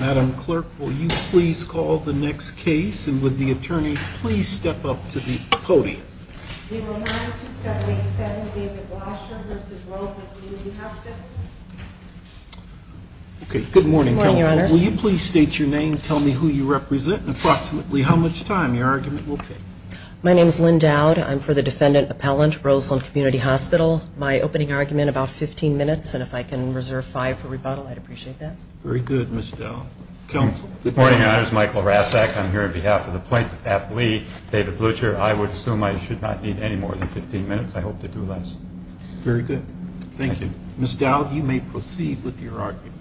Madam Clerk, will you please call the next case, and would the attorneys please step up to the podium? 092787 David Blutcher v. Roseland Community Hospital Okay, good morning, Counsel. Good morning, Your Honors. Will you please state your name, tell me who you represent, and approximately how much time your argument will take? My name is Lynn Dowd. I'm for the defendant appellant, Roseland Community Hospital. My opening argument, about 15 minutes, and if I can reserve five for rebuttal, I'd appreciate that. Very good, Ms. Dowd. Counsel? Good morning, Your Honors. Michael Rasek. I'm here on behalf of the plaintiff, App Lee, David Blutcher. I would assume I should not need any more than 15 minutes. I hope to do less. Very good. Thank you. Ms. Dowd, you may proceed with your argument.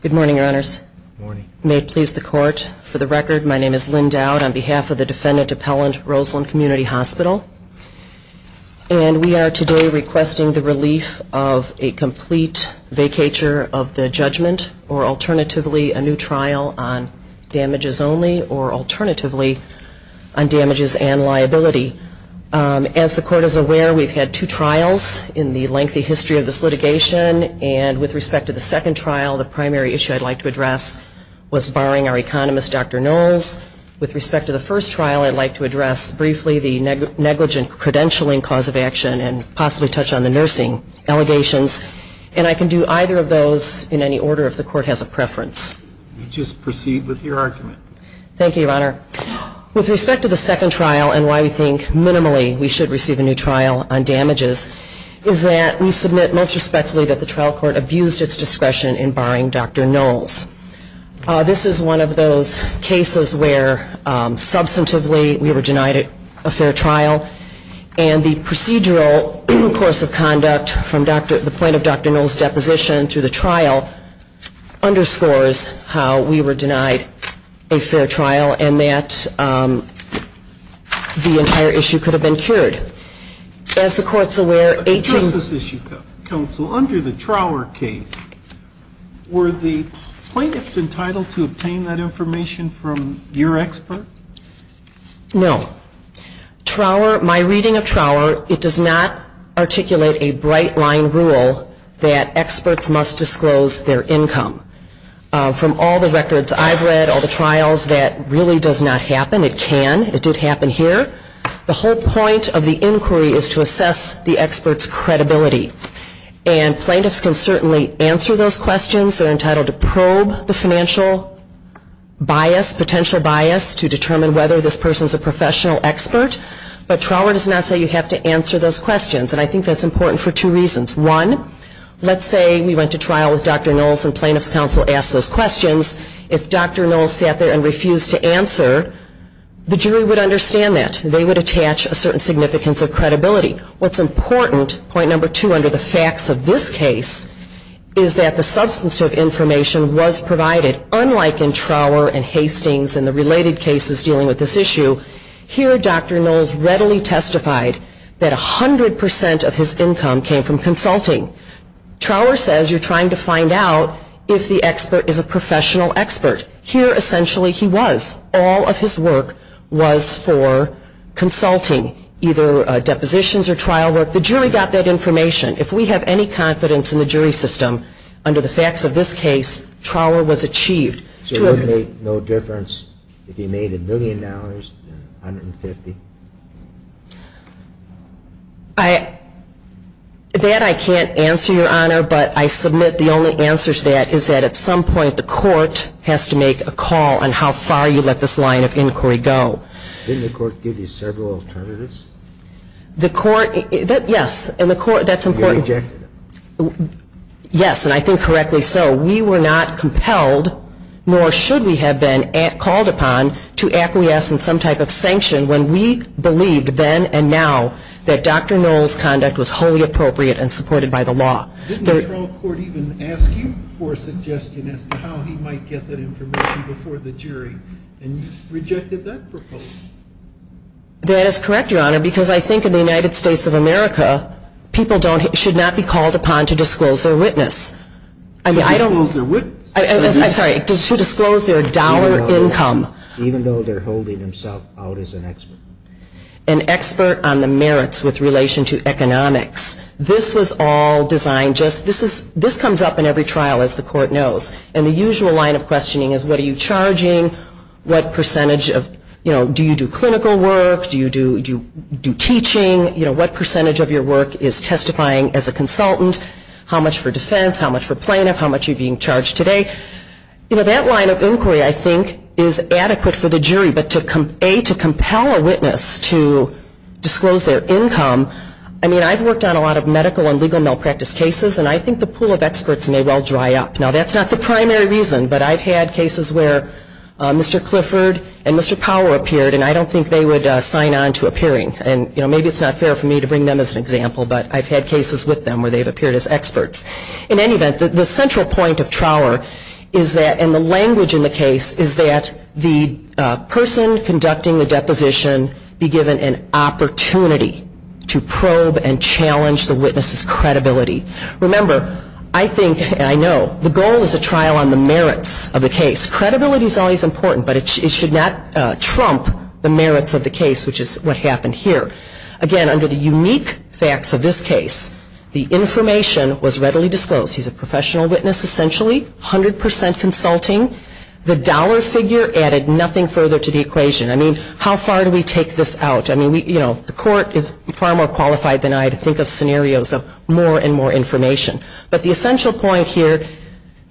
Good morning, Your Honors. Good morning. May it please the Court, for the record, my name is Lynn Dowd on behalf of the defendant appellant, Roseland Community Hospital. And we are today requesting the relief of a complete vacatur of the judgment, or alternatively, a new trial on damages only, or alternatively, on damages and liability. As the Court is aware, we've had two trials in the lengthy history of this litigation, and with respect to the second trial, the primary issue I'd like to address was barring our economist, Dr. Knowles. With respect to the first trial, I'd like to address briefly the negligent credentialing cause of action, and possibly touch on the nursing allegations. And I can do either of those in any order, if the Court has a preference. You just proceed with your argument. Thank you, Your Honor. With respect to the second trial, and why we think, minimally, we should receive a new trial on damages, is that we submit, most respectfully, that the trial court abused its discretion in barring Dr. Knowles. This is one of those cases where, substantively, we were denied a fair trial, and the procedural course of conduct from the point of Dr. Knowles' deposition through the trial underscores how we were denied a fair trial, and that the entire issue could have been cured. As the Court's aware, 18- But to address this issue, Counsel, under the Trower case, were the plaintiffs entitled to obtain that information from your expert? No. Trower, my reading of Trower, it does not articulate a bright-line rule that experts must disclose their income. From all the records I've read, all the trials, that really does not happen. It can. It did happen here. The whole point of the inquiry is to assess the expert's credibility, and plaintiffs can certainly answer those questions. They're entitled to probe the financial bias, potential bias, to determine whether this person's a professional expert, but Trower does not say you have to answer those questions, and I think that's important for two reasons. One, let's say we went to trial with Dr. Knowles and plaintiff's counsel asked those questions. If Dr. Knowles sat there and refused to answer, the jury would understand that. They would attach a certain significance of credibility. What's important, point number two, under the facts of this case, is that the substantive information was provided, unlike in Trower and Hastings and the related cases dealing with this issue. Here, Dr. Knowles readily testified that 100% of his income came from consulting. Trower says you're trying to find out if the expert is a professional expert. Here, essentially, he was. All of his work was for consulting, either depositions or trial work. The jury got that information. If we have any confidence in the jury system under the facts of this case, Trower was achieved. So it would make no difference if he made a million dollars, 150? That I can't answer, Your Honor, but I submit the only answer to that is that at some point the court has to make a call on how far you let this line of inquiry go. Didn't the court give you several alternatives? The court, yes. And the court, that's important. You rejected them. Yes, and I think correctly so. We were not compelled, nor should we have been called upon, to acquiesce in some type of sanction when we believed then and now that Dr. Knoll's conduct was wholly appropriate and supported by the law. Didn't the trial court even ask you for a suggestion as to how he might get that information before the jury? And you rejected that proposal. That is correct, Your Honor, because I think in the United States of America, people should not be called upon to disclose their witness. To disclose their witness? I'm sorry, to disclose their dollar income. Even though they're holding themselves out as an expert. An expert on the merits with relation to economics. This was all designed just, this comes up in every trial, as the court knows, and the usual line of questioning is what are you charging? What percentage of, you know, do you do clinical work? Do you do teaching? You know, what percentage of your work is testifying as a consultant? How much for defense? How much for plaintiff? How much are you being charged today? You know, that line of inquiry, I think, is adequate for the jury, but to, A, to compel a witness to disclose their income, I mean, I've worked on a lot of medical and legal malpractice cases, and I think the pool of experts may well dry up. Now, that's not the primary reason, but I've had cases where Mr. Clifford and Mr. Powell appeared, and I don't think they would sign on to appearing. And, you know, maybe it's not fair for me to bring them as an example, but I've had cases with them where they've appeared as experts. In any event, the central point of Trower is that, and the language in the case is that the person conducting the deposition be given an opportunity to probe and challenge the witness's credibility. Remember, I think, and I know, the goal is a trial on the merits of the case. Credibility is always important, but it should not trump the merits of the case, which is what happened here. Again, under the unique facts of this case, the information was readily disclosed. He's a professional witness, essentially, 100 percent consulting. The dollar figure added nothing further to the equation. I mean, how far do we take this out? I mean, you know, the court is far more qualified than I to think of scenarios of more and more information. But the essential point here,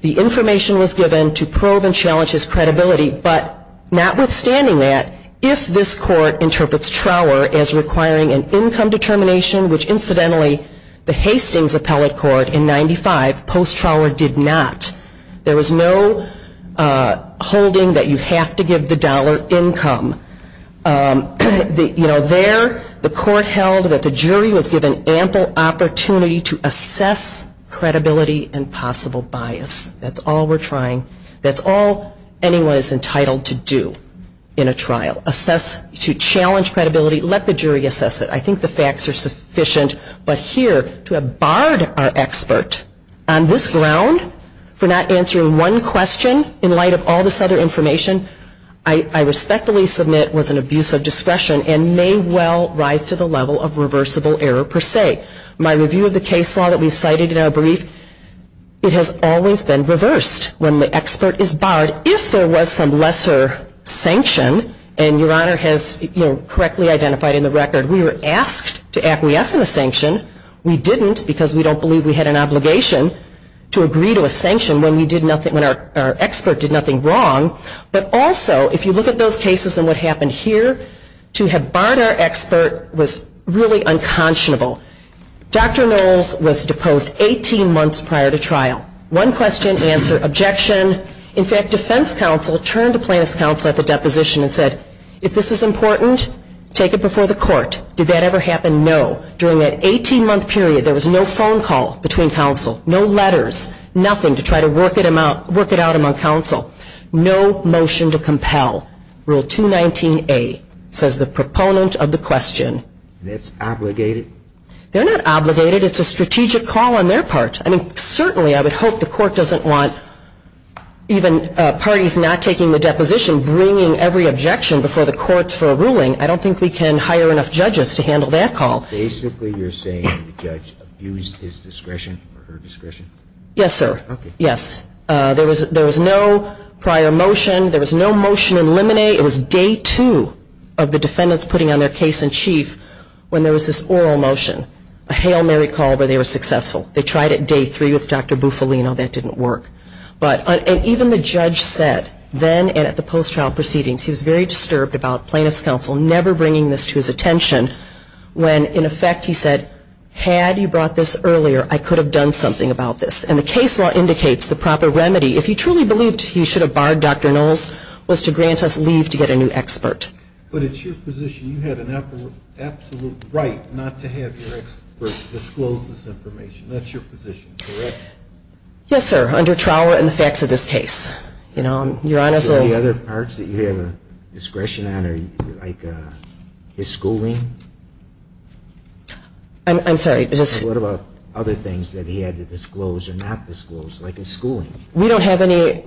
the information was given to probe and challenge his credibility, but notwithstanding that, if this court interprets Trower as requiring an income determination, which, incidentally, the Hastings appellate court in 1995, post Trower, did not. There was no holding that you have to give the dollar income. You know, there, the court held that the jury was given ample opportunity to assess credibility and possible bias. That's all we're trying. That's all anyone is entitled to do in a trial, assess, to challenge credibility. Let the jury assess it. I think the facts are sufficient. But here, to have barred our expert on this ground for not answering one question in light of all this other information, I respectfully submit was an abuse of discretion and may well rise to the level of reversible error per se. My review of the case law that we've cited in our brief, it has always been reversed when the expert is barred. If there was some lesser sanction, and Your Honor has correctly identified in the record, we were asked to acquiesce in a sanction. We didn't because we don't believe we had an obligation to agree to a sanction when our expert did nothing wrong. But also, if you look at those cases and what happened here, to have barred our expert was really unconscionable. Dr. Knowles was deposed 18 months prior to trial. One question, answer, objection. In fact, defense counsel turned to plaintiff's counsel at the deposition and said, if this is important, take it before the court. Did that ever happen? No. During that 18-month period, there was no phone call between counsel, no letters, nothing to try to work it out among counsel. No motion to compel. Rule 219A says the proponent of the question. That's obligated? They're not obligated. It's a strategic call on their part. I mean, certainly I would hope the court doesn't want even parties not taking the deposition bringing every objection before the courts for a ruling. I don't think we can hire enough judges to handle that call. Basically you're saying the judge abused his discretion or her discretion? Yes, sir. Okay. Yes. There was no prior motion. There was no motion in limine. It was Day 2 of the defendants putting on their case in chief when there was this oral motion, a hail Mary call where they were successful. They tried it Day 3 with Dr. Bufalino. That didn't work. Even the judge said then and at the post-trial proceedings, he was very disturbed about plaintiff's counsel never bringing this to his attention when, in effect, he said, had you brought this earlier, I could have done something about this. And the case law indicates the proper remedy, if he truly believed he should have barred Dr. Knowles, was to grant us leave to get a new expert. But it's your position you had an absolute right not to have your expert disclose this information. That's your position, correct? Yes, sir, under trial and the facts of this case. You know, you're honest. Are there any other parts that you have a discretion on, like his schooling? I'm sorry. What about other things that he had to disclose or not disclose, like his schooling? We don't have any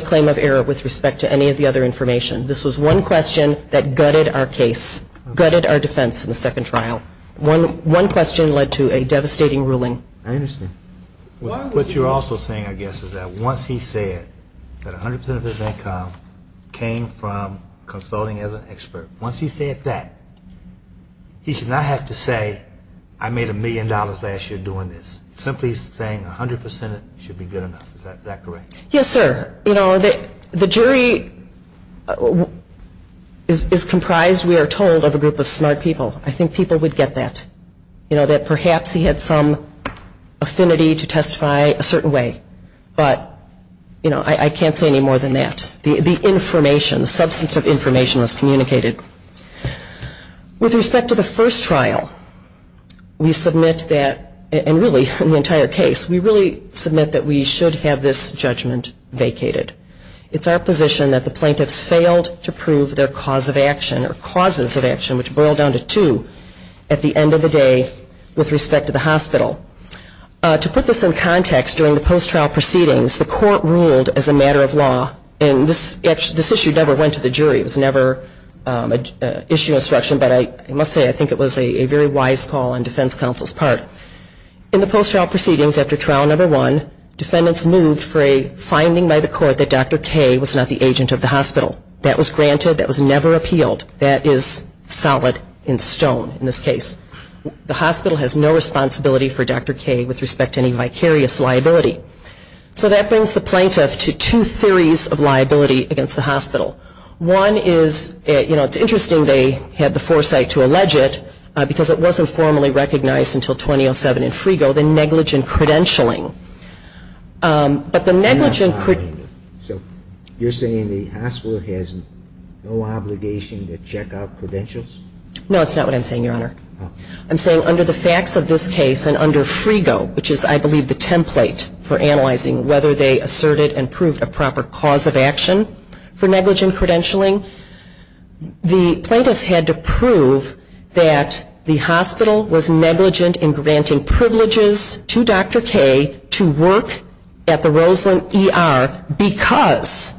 claim of error with respect to any of the other information. This was one question that gutted our case, gutted our defense in the second trial. One question led to a devastating ruling. I understand. What you're also saying, I guess, is that once he said that 100% of his income came from consulting as an expert, once he said that, he should not have to say, I made a million dollars last year doing this. Simply saying 100% should be good enough. Is that correct? Yes, sir. You know, the jury is comprised, we are told, of a group of smart people. I think people would get that. You know, that perhaps he had some affinity to testify a certain way. But, you know, I can't say any more than that. The information, the substance of information was communicated. With respect to the first trial, we submit that, and really the entire case, we really submit that we should have this judgment vacated. It's our position that the plaintiffs failed to prove their cause of action or causes of action, which boil down to two, at the end of the day, with respect to the hospital. To put this in context, during the post-trial proceedings, the court ruled as a matter of law. And this issue never went to the jury. It was never an issue of instruction. But I must say, I think it was a very wise call on defense counsel's part. In the post-trial proceedings after trial number one, defendants moved for a finding by the court that Dr. K was not the agent of the hospital. That was granted. That was never appealed. That is solid in stone in this case. The hospital has no responsibility for Dr. K with respect to any vicarious liability. So that brings the plaintiff to two theories of liability against the hospital. One is, you know, it's interesting they had the foresight to allege it because it wasn't formally recognized until 2007 in Frigo, the negligent credentialing. So you're saying the hospital has no obligation to check out credentials? No, that's not what I'm saying, Your Honor. I'm saying under the facts of this case and under Frigo, which is I believe the template for analyzing whether they asserted and proved a proper cause of action for negligent credentialing, the plaintiffs had to prove that the hospital was negligent in granting privileges to Dr. K to work at the Roseland ER because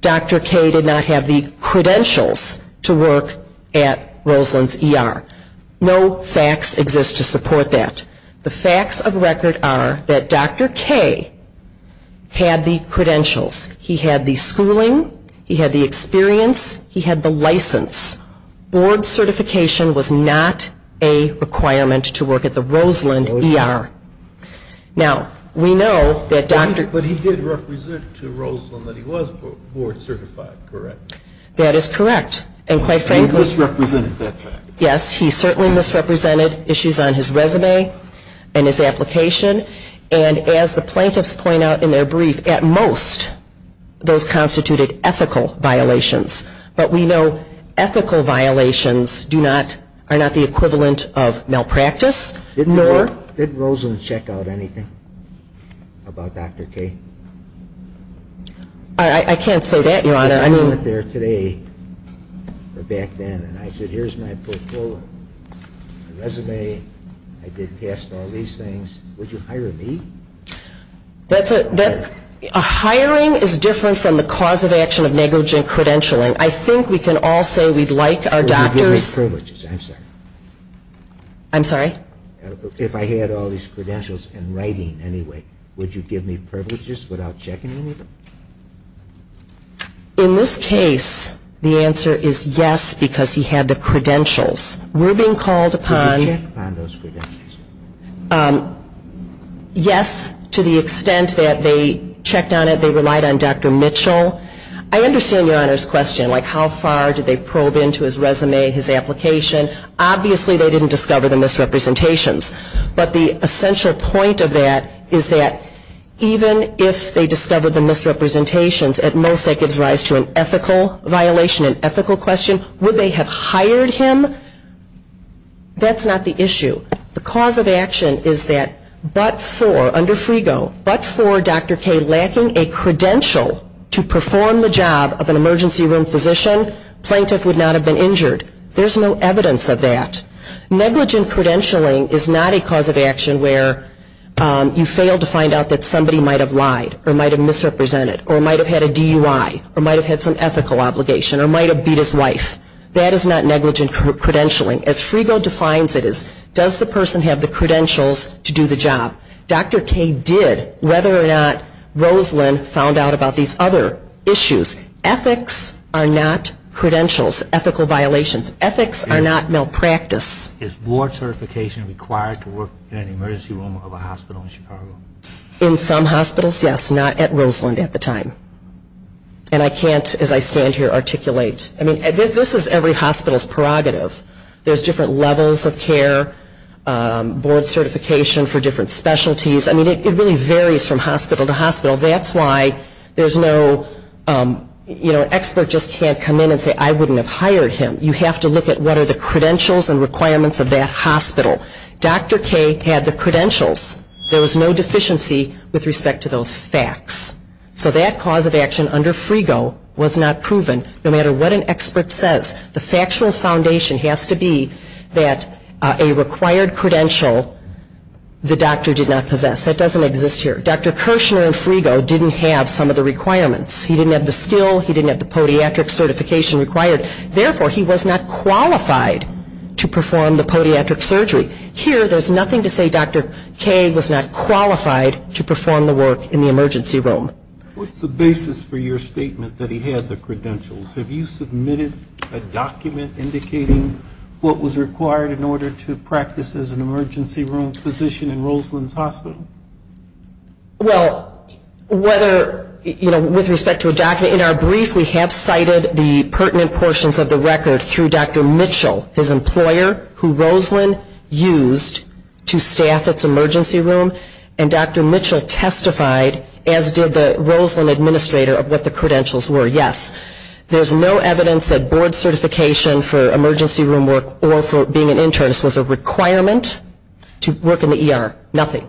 Dr. K did not have the credentials to work at Roseland's ER. No facts exist to support that. The facts of record are that Dr. K had the credentials. He had the schooling. He had the experience. He had the license. Board certification was not a requirement to work at the Roseland ER. Now, we know that Dr. K But he did represent to Roseland that he was board certified, correct? That is correct. And quite frankly He misrepresented that fact. Yes, he certainly misrepresented issues on his resume and his application. And as the plaintiffs point out in their brief, at most those constituted ethical violations. But we know ethical violations are not the equivalent of malpractice, nor Did Roseland check out anything about Dr. K? I can't say that, Your Honor. I went there today or back then and I said, here's my portfolio, my resume. I did past all these things. Would you hire me? That's a A hiring is different from the cause of action of negligent credentialing. I think we can all say we'd like our doctors Would you give me privileges? I'm sorry. I'm sorry? If I had all these credentials and writing anyway, would you give me privileges without checking any of them? In this case, the answer is yes, because he had the credentials. We're being called upon Would you check upon those credentials? Yes, to the extent that they checked on it, they relied on Dr. Mitchell. I understand Your Honor's question, like how far did they probe into his resume, his application? Obviously, they didn't discover the misrepresentations. But the essential point of that is that even if they discovered the misrepresentations, At most, that gives rise to an ethical violation, an ethical question. Would they have hired him? That's not the issue. The cause of action is that but for, under Frigo, but for Dr. K lacking a credential to perform the job of an emergency room physician, Plaintiff would not have been injured. There's no evidence of that. Negligent credentialing is not a cause of action where you fail to find out that somebody might have lied, or might have misrepresented, or might have had a DUI, or might have had some ethical obligation, or might have beat his wife. That is not negligent credentialing. As Frigo defines it as, does the person have the credentials to do the job? Dr. K did, whether or not Rosalynn found out about these other issues. Ethics are not credentials, ethical violations. Ethics are not malpractice. Is board certification required to work in an emergency room of a hospital in Chicago? In some hospitals, yes. Not at Rosalynn at the time. And I can't, as I stand here, articulate. I mean, this is every hospital's prerogative. There's different levels of care, board certification for different specialties. I mean, it really varies from hospital to hospital. That's why there's no, you know, an expert just can't come in and say, I wouldn't have hired him. You have to look at what are the credentials and requirements of that hospital. Dr. K had the credentials. There was no deficiency with respect to those facts. So that cause of action under Frigo was not proven, no matter what an expert says. The factual foundation has to be that a required credential, the doctor did not possess. That doesn't exist here. Dr. Kirshner in Frigo didn't have some of the requirements. He didn't have the skill. He didn't have the podiatric certification required. Therefore, he was not qualified to perform the podiatric surgery. Here, there's nothing to say Dr. K was not qualified to perform the work in the emergency room. What's the basis for your statement that he had the credentials? Have you submitted a document indicating what was required in order to practice as an emergency room physician in Rosalynn's hospital? Well, whether, you know, with respect to a document, in our brief we have cited the pertinent portions of the record through Dr. Mitchell, his employer who Rosalynn used to staff its emergency room. And Dr. Mitchell testified, as did the Rosalynn administrator, of what the credentials were, yes. There's no evidence that board certification for emergency room work or for being an internist was a requirement to work in the ER. Nothing.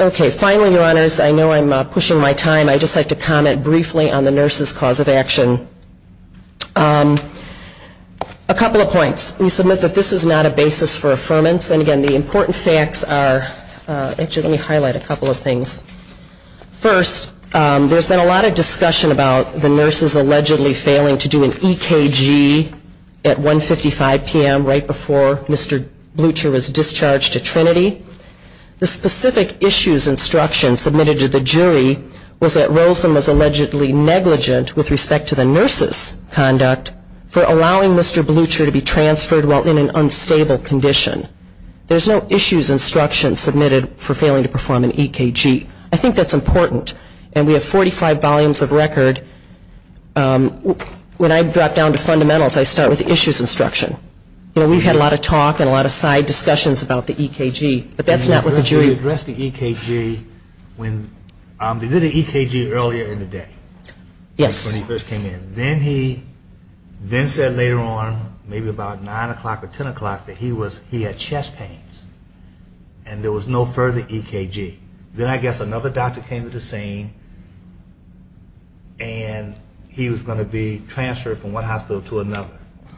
Okay. Finally, Your Honors, I know I'm pushing my time. I'd just like to comment briefly on the nurse's cause of action. A couple of points. We submit that this is not a basis for affirmance. And, again, the important facts are actually let me highlight a couple of things. First, there's been a lot of discussion about the nurses allegedly failing to do an EKG at 155 p.m. right before Mr. Blucher was discharged to Trinity. The specific issues instruction submitted to the jury was that Rosalynn was allegedly negligent, with respect to the nurse's conduct, for allowing Mr. Blucher to be transferred while in an unstable condition. There's no issues instruction submitted for failing to perform an EKG. I think that's important. And we have 45 volumes of record. When I drop down to fundamentals, I start with the issues instruction. You know, we've had a lot of talk and a lot of side discussions about the EKG, but that's not with the jury. You addressed the EKG when they did an EKG earlier in the day. Yes. When he first came in. Then he said later on, maybe about 9 o'clock or 10 o'clock, that he had chest pains and there was no further EKG. Then I guess another doctor came to the scene, and he was going to be transferred from one hospital to another.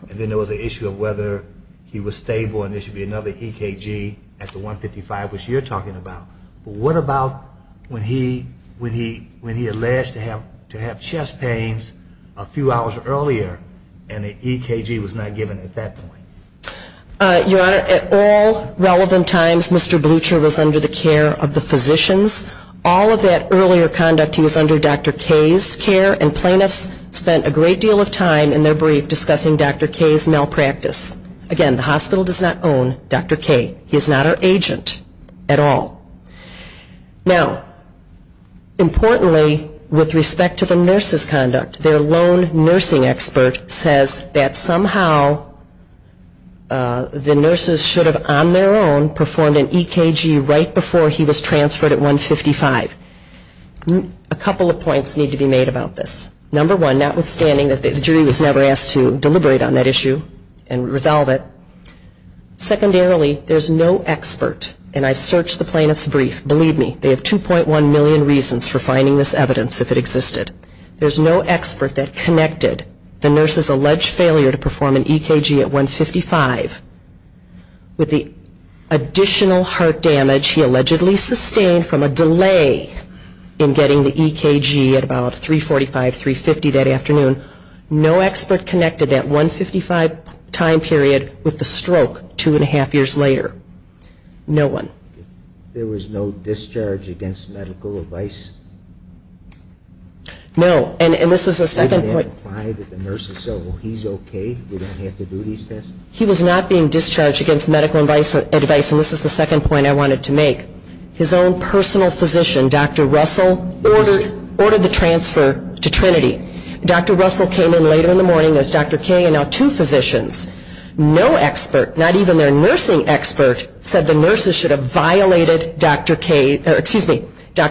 And then there was the issue of whether he was stable and there should be another EKG at the 155, which you're talking about. But what about when he alleged to have chest pains a few hours earlier, and the EKG was not given at that point? Your Honor, at all relevant times, Mr. Blucher was under the care of the physicians. All of that earlier conduct, he was under Dr. K's care, and plaintiffs spent a great deal of time in their brief discussing Dr. K's malpractice. Again, the hospital does not own Dr. K. He is not our agent at all. Now, importantly, with respect to the nurse's conduct, their lone nursing expert says that somehow the nurses should have on their own performed an EKG right before he was transferred at 155. A couple of points need to be made about this. Number one, notwithstanding that the jury was never asked to deliberate on that issue and resolve it. Secondarily, there's no expert, and I've searched the plaintiff's brief. Believe me, they have 2.1 million reasons for finding this evidence if it existed. There's no expert that connected the nurse's alleged failure to perform an EKG at 155 with the additional heart damage he allegedly sustained from a delay in getting the EKG at about 345, 350 that afternoon. No expert connected that 155 time period with the stroke two and a half years later. No one. There was no discharge against medical advice? No, and this is the second point. They didn't imply that the nurses said, well, he's okay, we don't have to do these tests? He was not being discharged against medical advice, and this is the second point I wanted to make. His own personal physician, Dr. Russell, ordered the transfer to Trinity. Dr. Russell came in later in the morning. There's Dr. Kaye and now two physicians. No expert, not even their nursing expert, said the nurses should have violated Dr.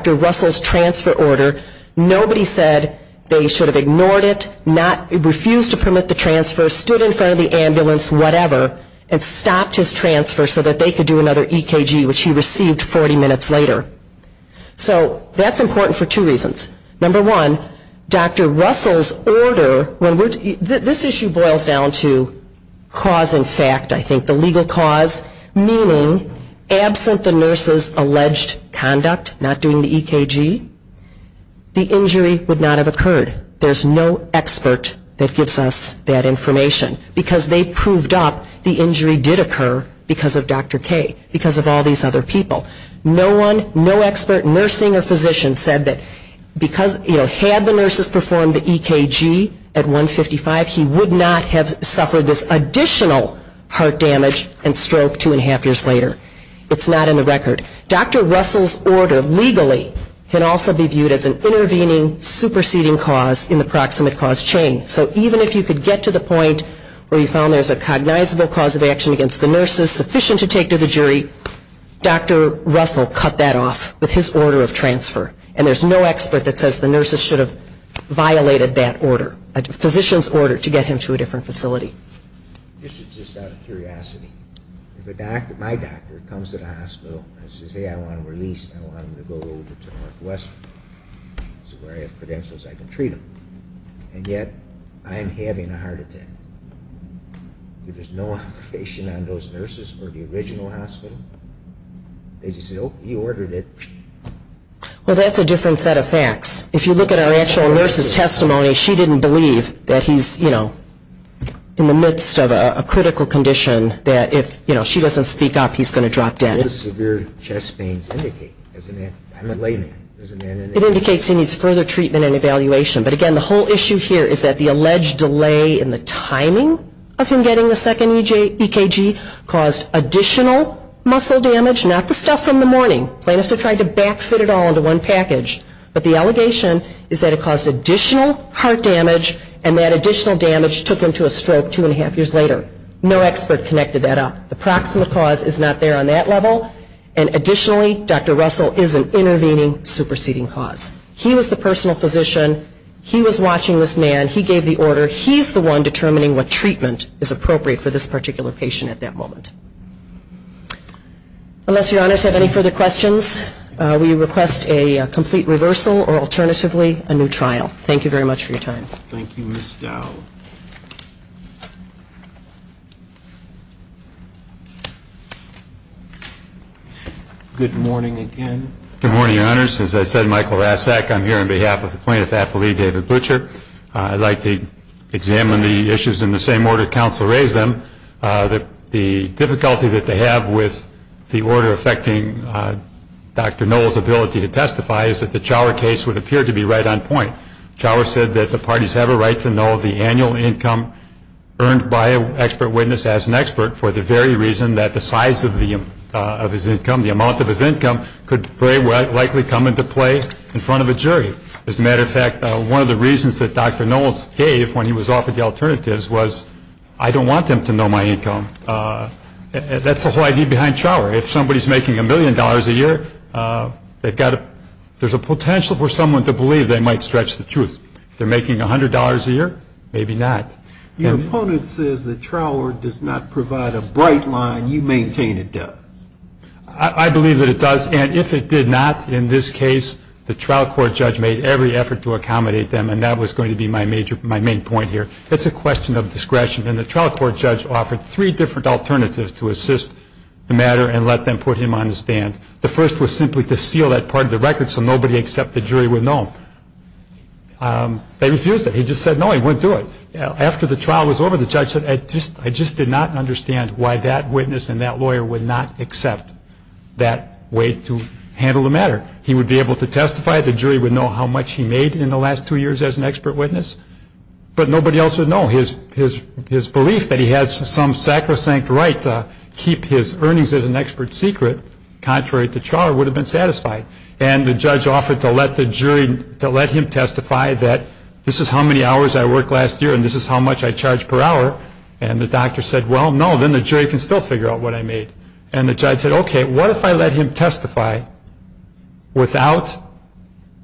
Russell's transfer order. Nobody said they should have ignored it, refused to permit the transfer, stood in front of the ambulance, whatever, and stopped his transfer so that they could do another EKG, which he received 40 minutes later. So that's important for two reasons. Number one, Dr. Russell's order, this issue boils down to cause and fact, I think, the legal cause, meaning absent the nurse's alleged conduct, not doing the EKG, the injury would not have occurred. There's no expert that gives us that information. Because they proved up the injury did occur because of Dr. Kaye, because of all these other people. No one, no expert, nursing or physician, said that because, you know, had the nurses performed the EKG at 155, he would not have suffered this additional heart damage and stroke two and a half years later. It's not in the record. Dr. Russell's order legally can also be viewed as an intervening, superseding cause in the proximate cause chain. So even if you could get to the point where you found there's a cognizable cause of action against the nurses that is sufficient to take to the jury, Dr. Russell cut that off with his order of transfer. And there's no expert that says the nurses should have violated that order, a physician's order, to get him to a different facility. This is just out of curiosity. If my doctor comes to the hospital and says, hey, I want him released, I want him to go over to Northwestern, where I have credentials I can treat him, and yet I am having a heart attack. If there's no obligation on those nurses or the original hospital, they just say, oh, he ordered it. Well, that's a different set of facts. If you look at our actual nurse's testimony, she didn't believe that he's, you know, in the midst of a critical condition, that if, you know, she doesn't speak up, he's going to drop dead. What does severe chest pains indicate? I'm a layman. It indicates he needs further treatment and evaluation. But again, the whole issue here is that the alleged delay in the timing of him getting the second EKG caused additional muscle damage, not the stuff from the morning. Plaintiffs are trying to back-fit it all into one package. But the allegation is that it caused additional heart damage, and that additional damage took him to a stroke two and a half years later. No expert connected that up. The proximate cause is not there on that level. And additionally, Dr. Russell is an intervening, superseding cause. He was the personal physician. He was watching this man. He gave the order. He's the one determining what treatment is appropriate for this particular patient at that moment. Unless Your Honors have any further questions, we request a complete reversal or alternatively, a new trial. Thank you very much for your time. Thank you, Ms. Dowell. Good morning again. Good morning, Your Honors. As I said, Michael Rasak. I'm here on behalf of the plaintiff's affilee, David Butcher. I'd like to examine the issues in the same order counsel raised them. The difficulty that they have with the order affecting Dr. Noll's ability to testify is that the Chower case would appear to be right on point. Chower said that the parties have a right to know the annual income earned by an expert witness as an expert for the very reason that the size of his income, the amount of his income, could very likely come into play in front of a jury. As a matter of fact, one of the reasons that Dr. Noll gave when he was offered the alternatives was, I don't want them to know my income. That's the whole idea behind Chower. If somebody's making a million dollars a year, there's a potential for someone to believe they might stretch the truth. If they're making $100 a year, maybe not. Your opponent says that Chower does not provide a bright line. You maintain it does. I believe that it does, and if it did not, in this case, the trial court judge made every effort to accommodate them, and that was going to be my main point here. It's a question of discretion, and the trial court judge offered three different alternatives to assist the matter and let them put him on the stand. The first was simply to seal that part of the record so nobody except the jury would know. They refused it. He just said no, he wouldn't do it. After the trial was over, the judge said, I just did not understand why that witness and that lawyer would not accept that way to handle the matter. He would be able to testify. The jury would know how much he made in the last two years as an expert witness, but nobody else would know. His belief that he has some sacrosanct right to keep his earnings as an expert secret, contrary to Chower, would have been satisfied, and the judge offered to let him testify that this is how many hours I worked last year and this is how much I charge per hour, and the doctor said, well, no, then the jury can still figure out what I made, and the judge said, okay, what if I let him testify without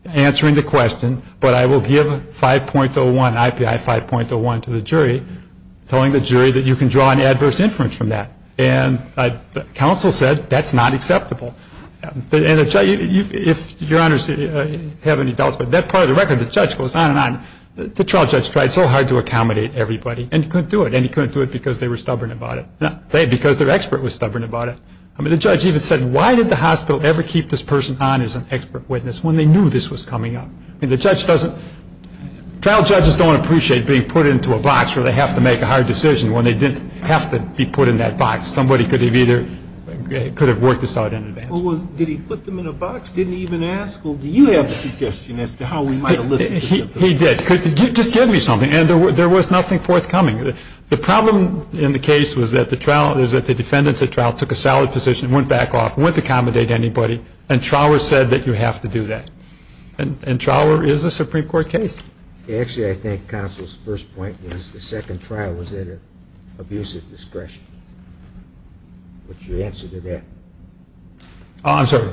answering the question, but I will give 5.01, IPI 5.01 to the jury, telling the jury that you can draw an adverse inference from that, and counsel said that's not acceptable. If your honors have any doubts, but that part of the record, the judge goes on and on. The trial judge tried so hard to accommodate everybody and couldn't do it, and he couldn't do it because they were stubborn about it, because their expert was stubborn about it. I mean, the judge even said, why did the hospital ever keep this person on as an expert witness when they knew this was coming up? I mean, the judge doesn't, trial judges don't appreciate being put into a box where they have to make a hard decision when they didn't have to be put in that box. Somebody could have either, could have worked this out in advance. Well, did he put them in a box, didn't even ask, or do you have a suggestion as to how we might have listened? He did. Just give me something. And there was nothing forthcoming. The problem in the case was that the trial, is that the defendants at trial took a solid position, went back off, wouldn't accommodate anybody, and Trower said that you have to do that. And Trower is a Supreme Court case. Actually, I think Counsel's first point was the second trial was at an abusive discretion. What's your answer to that? Oh, I'm sorry.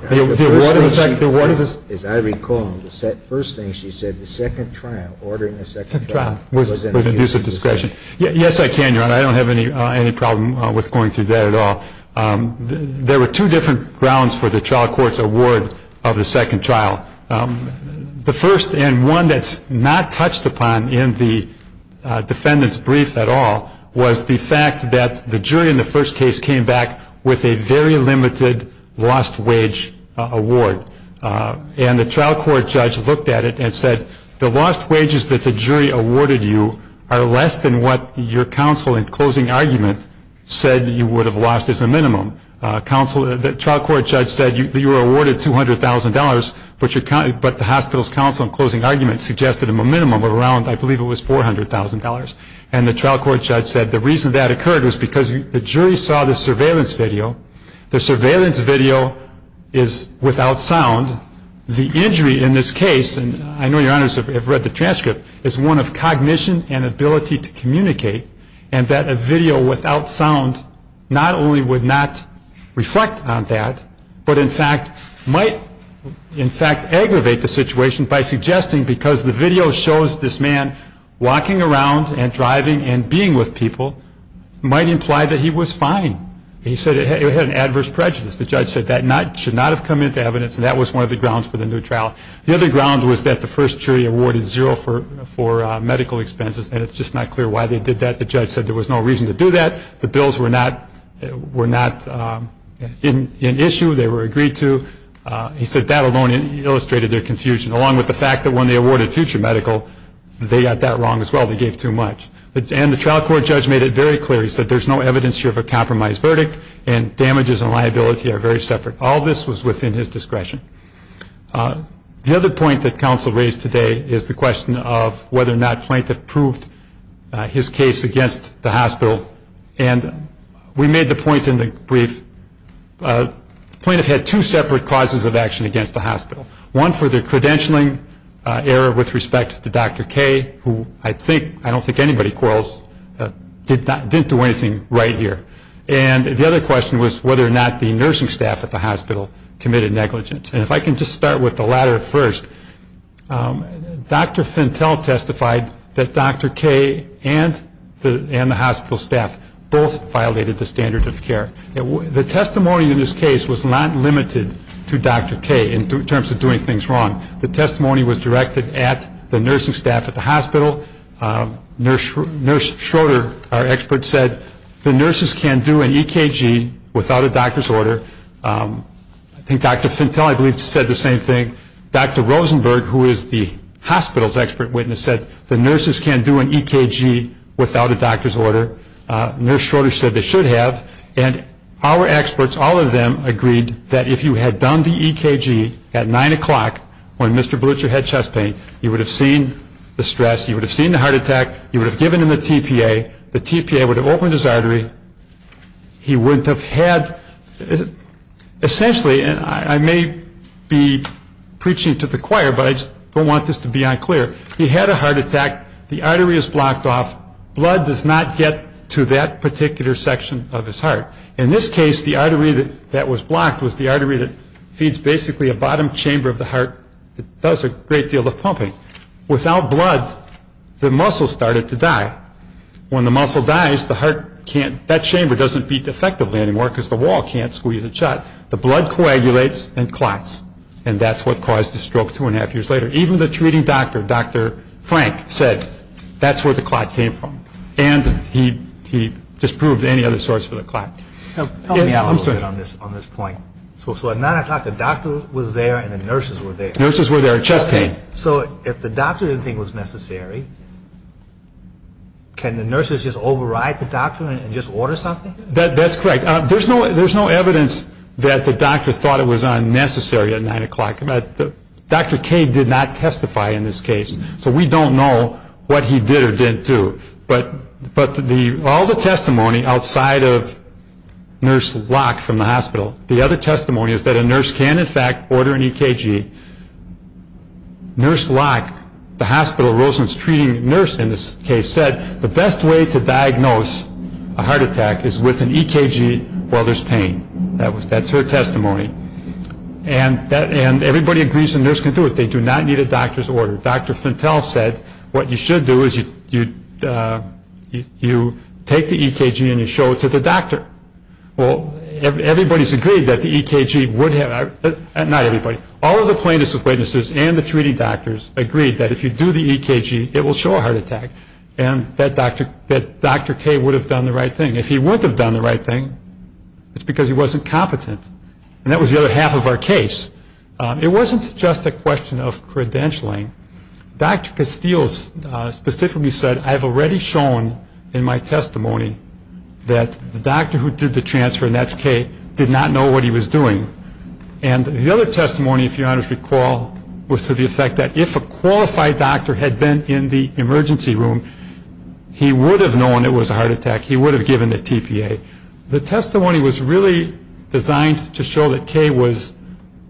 As I recall, the first thing she said, the second trial, ordering the second trial was at an abusive discretion. Yes, I can, Your Honor. I don't have any problem with going through that at all. There were two different grounds for the trial court's award of the second trial. The first, and one that's not touched upon in the defendant's brief at all, was the fact that the jury in the first case came back with a very limited lost wage award. And the trial court judge looked at it and said, the lost wages that the jury awarded you are less than what your counsel in closing argument said you would have lost as a minimum. The trial court judge said you were awarded $200,000, but the hospital's counsel in closing argument suggested a minimum of around, I believe it was $400,000. And the trial court judge said the reason that occurred was because the jury saw the surveillance video. The surveillance video is without sound. The injury in this case, and I know Your Honors have read the transcript, is one of cognition and ability to communicate, and that a video without sound not only would not reflect on that, but in fact might aggravate the situation by suggesting, because the video shows this man walking around and driving and being with people, might imply that he was fine. He said it had an adverse prejudice. The judge said that should not have come into evidence, and that was one of the grounds for the new trial. The other ground was that the first jury awarded zero for medical expenses, and it's just not clear why they did that. The judge said there was no reason to do that. The bills were not in issue. They were agreed to. He said that alone illustrated their confusion, along with the fact that when they awarded future medical, they got that wrong as well. They gave too much. And the trial court judge made it very clear. He said there's no evidence here of a compromised verdict, and damages and liability are very separate. All this was within his discretion. The other point that counsel raised today is the question of whether or not Plaintiff proved his case against the hospital. And we made the point in the brief, Plaintiff had two separate causes of action against the hospital. One for the credentialing error with respect to Dr. K, who I think, I don't think anybody quarrels, didn't do anything right here. And the other question was whether or not the nursing staff at the hospital committed negligence. And if I can just start with the latter first. Dr. Fentel testified that Dr. K and the hospital staff both violated the standards of care. The testimony in this case was not limited to Dr. K in terms of doing things wrong. The testimony was directed at the nursing staff at the hospital. Nurse Schroeder, our expert, said the nurses can't do an EKG without a doctor's order. I think Dr. Fentel, I believe, said the same thing. Dr. Rosenberg, who is the hospital's expert witness, said the nurses can't do an EKG without a doctor's order. Nurse Schroeder said they should have. And our experts, all of them, agreed that if you had done the EKG at 9 o'clock when Mr. Blucher had chest pain, he would have seen the stress. He would have seen the heart attack. He would have given him the TPA. The TPA would have opened his artery. He wouldn't have had, essentially, and I may be preaching to the choir, but I just don't want this to be unclear. He had a heart attack. The artery is blocked off. Blood does not get to that particular section of his heart. In this case, the artery that was blocked was the artery that feeds basically a bottom chamber of the heart that does a great deal of pumping. Without blood, the muscle started to die. When the muscle dies, the heart can't, that chamber doesn't beat effectively anymore because the wall can't squeeze it shut. The blood coagulates and clots, and that's what caused the stroke two and a half years later. Even the treating doctor, Dr. Frank, said that's where the clot came from, and he disproved any other source for the clot. Help me out a little bit on this point. So at 9 o'clock, the doctor was there and the nurses were there. Nurses were there. Chest pain. So if the doctor didn't think it was necessary, can the nurses just override the doctor and just order something? That's correct. There's no evidence that the doctor thought it was unnecessary at 9 o'clock. Dr. K did not testify in this case, so we don't know what he did or didn't do. But all the testimony outside of Nurse Locke from the hospital, the other testimony is that a nurse can, in fact, order an EKG. Nurse Locke, the hospital Rosen's treating nurse in this case, said, the best way to diagnose a heart attack is with an EKG while there's pain. That's her testimony. And everybody agrees a nurse can do it. They do not need a doctor's order. Dr. Fintel said what you should do is you take the EKG and you show it to the doctor. Well, everybody's agreed that the EKG would have ‑‑ not everybody. All of the plaintiffs' witnesses and the treating doctors agreed that if you do the EKG, it will show a heart attack. And that Dr. K would have done the right thing. If he wouldn't have done the right thing, it's because he wasn't competent. And that was the other half of our case. It wasn't just a question of credentialing. Dr. Castile specifically said, I've already shown in my testimony that the doctor who did the transfer, and that's K, did not know what he was doing. And the other testimony, if you'll let me recall, was to the effect that if a qualified doctor had been in the emergency room, he would have known it was a heart attack. He would have given the TPA. The testimony was really designed to show that K was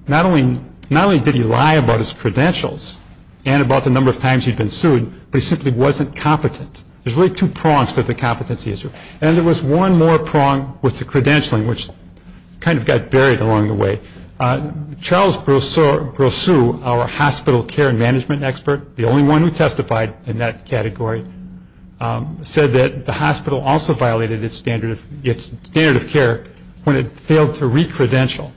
not only did he lie about his credentials and about the number of times he'd been sued, but he simply wasn't competent. There's really two prongs to the competency issue. And there was one more prong with the credentialing, which kind of got buried along the way. Charles Brosseau, our hospital care management expert, the only one who testified in that category, said that the hospital also violated its standard of care when it failed to re-credential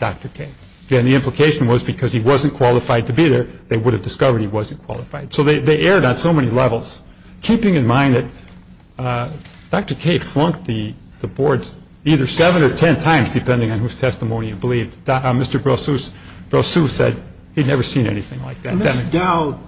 Dr. K. And the implication was because he wasn't qualified to be there, they would have discovered he wasn't qualified. So they erred on so many levels, keeping in mind that Dr. K flunked the boards either seven or ten times, depending on whose testimony he believed. Mr. Brosseau said he'd never seen anything like that. Ms. Dowd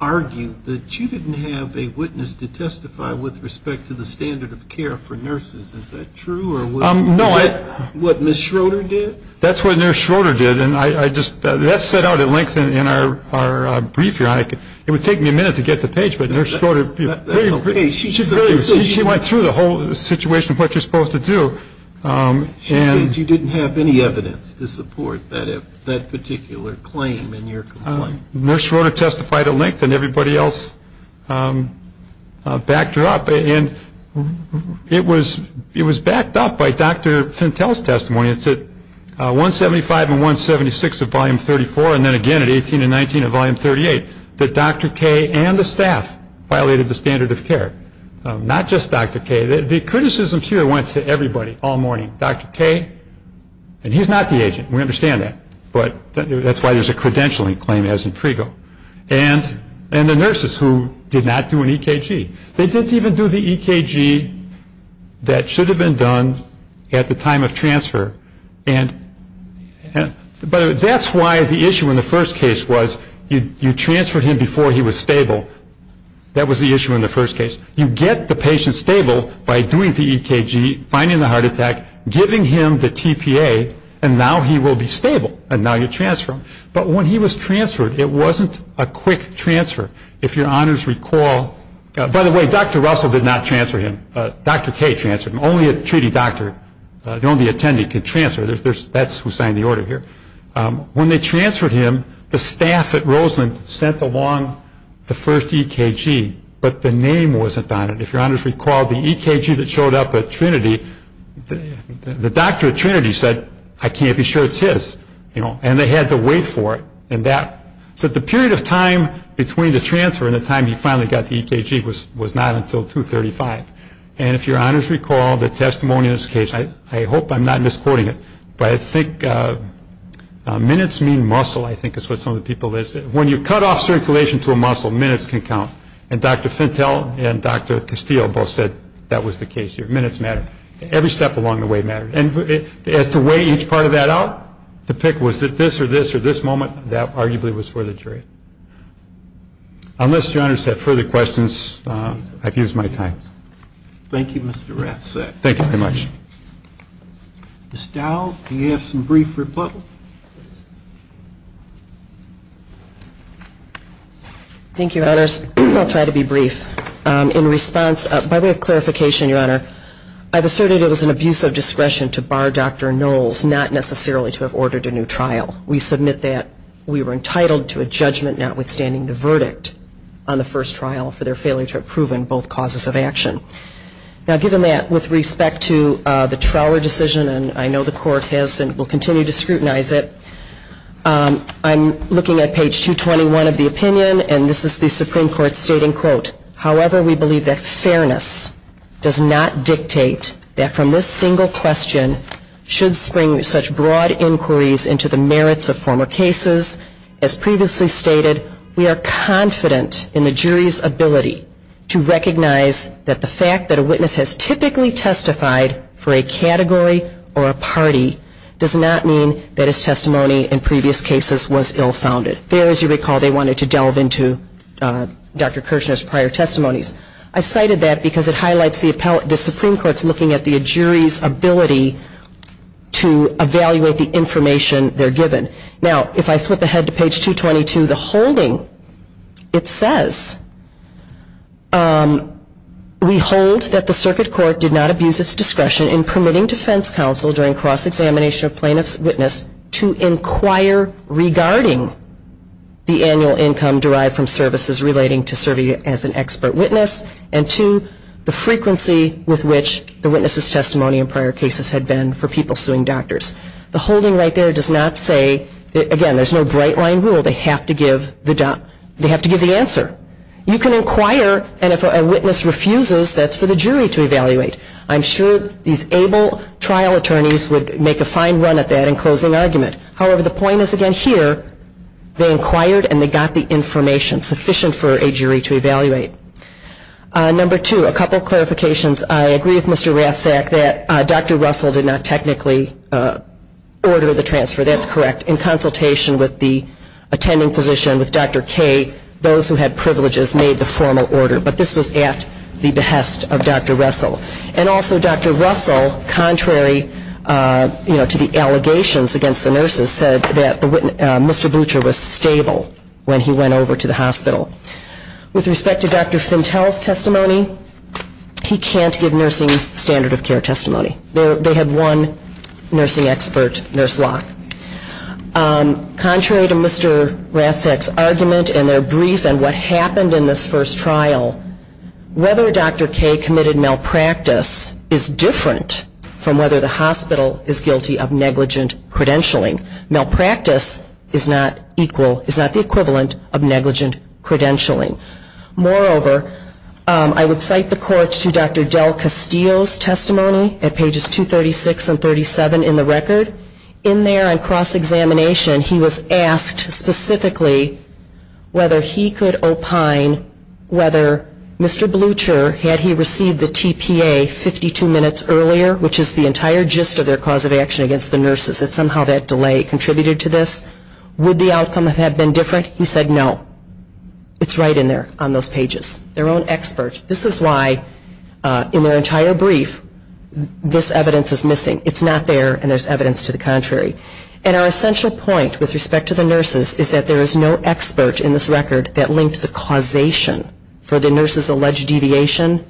argued that you didn't have a witness to testify with respect to the standard of care for nurses. Is that true? Is that what Ms. Schroeder did? That's what Ms. Schroeder did. And that's set out at length in our brief. It would take me a minute to get to the page, but Ms. Schroeder, she went through the whole situation of what you're supposed to do. She said you didn't have any evidence to support that particular claim in your complaint. Ms. Schroeder testified at length, and everybody else backed her up. And it was backed up by Dr. Fentel's testimony. It's at 175 and 176 of Volume 34, and then again at 18 and 19 of Volume 38, that Dr. K and the staff violated the standard of care, not just Dr. K. The criticism here went to everybody all morning. Dr. K, and he's not the agent. We understand that. But that's why there's a credentialing claim, as in Prego. And the nurses who did not do an EKG. They didn't even do the EKG that should have been done at the time of transfer. But that's why the issue in the first case was you transferred him before he was stable. That was the issue in the first case. You get the patient stable by doing the EKG, finding the heart attack, giving him the TPA, and now he will be stable, and now you transfer him. But when he was transferred, it wasn't a quick transfer. If your honors recall, by the way, Dr. Russell did not transfer him. Dr. K transferred him. Only a treating doctor, the only attendee could transfer. That's who signed the order here. When they transferred him, the staff at Roseland sent along the first EKG, but the name wasn't on it. If your honors recall, the EKG that showed up at Trinity, the doctor at Trinity said, I can't be sure it's his. And they had to wait for it. So the period of time between the transfer and the time he finally got the EKG was not until 235. And if your honors recall, the testimony in this case, I hope I'm not misquoting it, but I think minutes mean muscle, I think is what some of the people listed. When you cut off circulation to a muscle, minutes can count. And Dr. Fentel and Dr. Castile both said that was the case here. Minutes matter. Every step along the way matters. And as to weigh each part of that out, to pick was it this or this or this moment, that arguably was for the jury. Unless your honors have further questions, I've used my time. Thank you, Mr. Rathsack. Thank you very much. Ms. Dow, do you have some brief rebuttal? Thank you, your honors. I'll try to be brief. In response, by way of clarification, your honor, I've asserted it was an abuse of discretion to bar Dr. Knowles, not necessarily to have ordered a new trial. We submit that we were entitled to a judgment notwithstanding the verdict on the first trial for their failure to have proven both causes of action. Now, given that, with respect to the Trower decision, and I know the court has and will continue to scrutinize it, I'm looking at page 221 of the opinion, and this is the Supreme Court stating, quote, however, we believe that fairness does not dictate that from this single question should spring such broad inquiries into the merits of former cases. As previously stated, we are confident in the jury's ability to recognize that the fact that a witness has typically testified for a category or a party does not mean that his testimony in previous cases was ill-founded. There, as you recall, they wanted to delve into Dr. Kirchner's prior testimonies. I've cited that because it highlights the Supreme Court's looking at the jury's ability to evaluate the information they're given. Now, if I flip ahead to page 222, the holding, it says, we hold that the circuit court did not abuse its discretion in permitting defense counsel during cross-examination of plaintiff's witness to inquire regarding the annual income derived from services relating to serving as an expert witness, and two, the frequency with which the witness's testimony in prior cases had been for people suing doctors. The holding right there does not say, again, there's no bright-line rule. They have to give the answer. You can inquire, and if a witness refuses, that's for the jury to evaluate. I'm sure these able trial attorneys would make a fine run at that in closing argument. However, the point is again here, they inquired and they got the information sufficient for a jury to evaluate. Number two, a couple clarifications. I agree with Mr. Rathsack that Dr. Russell did not technically order the transfer. That's correct. In consultation with the attending physician, with Dr. Kaye, those who had privileges made the formal order. But this was at the behest of Dr. Russell. And also Dr. Russell, contrary to the allegations against the nurses, said that Mr. Blucher was stable when he went over to the hospital. With respect to Dr. Fintell's testimony, he can't give nursing standard of care testimony. They had one nursing expert, Nurse Locke. Contrary to Mr. Rathsack's argument and their brief and what happened in this first trial, whether Dr. Kaye committed malpractice is different from whether the hospital is guilty of negligent credentialing. Malpractice is not equal, is not the equivalent of negligent credentialing. Moreover, I would cite the court to Dr. Del Castillo's testimony at pages 236 and 37 in the record. In there on cross-examination, he was asked specifically whether he could opine whether Mr. Blucher, had he received the TPA 52 minutes earlier, which is the entire gist of their cause of action against the nurses, that somehow that delay contributed to this. Would the outcome have been different? He said no. It's right in there on those pages. Their own expert. This is why in their entire brief, this evidence is missing. It's not there and there's evidence to the contrary. And our essential point with respect to the nurses is that there is no expert in this record that linked the causation for the nurses' alleged deviation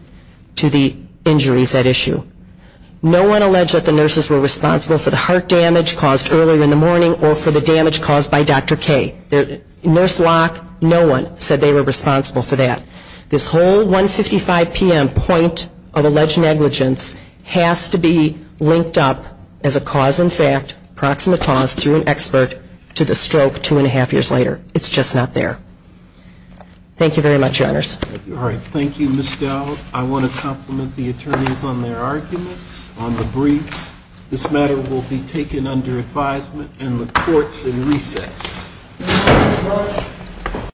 to the injuries at issue. No one alleged that the nurses were responsible for the heart damage caused earlier in the morning or for the damage caused by Dr. K. Nurse Locke, no one said they were responsible for that. This whole 155 p.m. point of alleged negligence has to be linked up as a cause in fact, proximate cause through an expert to the stroke two and a half years later. It's just not there. Thank you very much, Your Honors. All right. Thank you, Ms. Dowd. I want to compliment the attorneys on their arguments on the briefs. This matter will be taken under advisement in the courts in recess.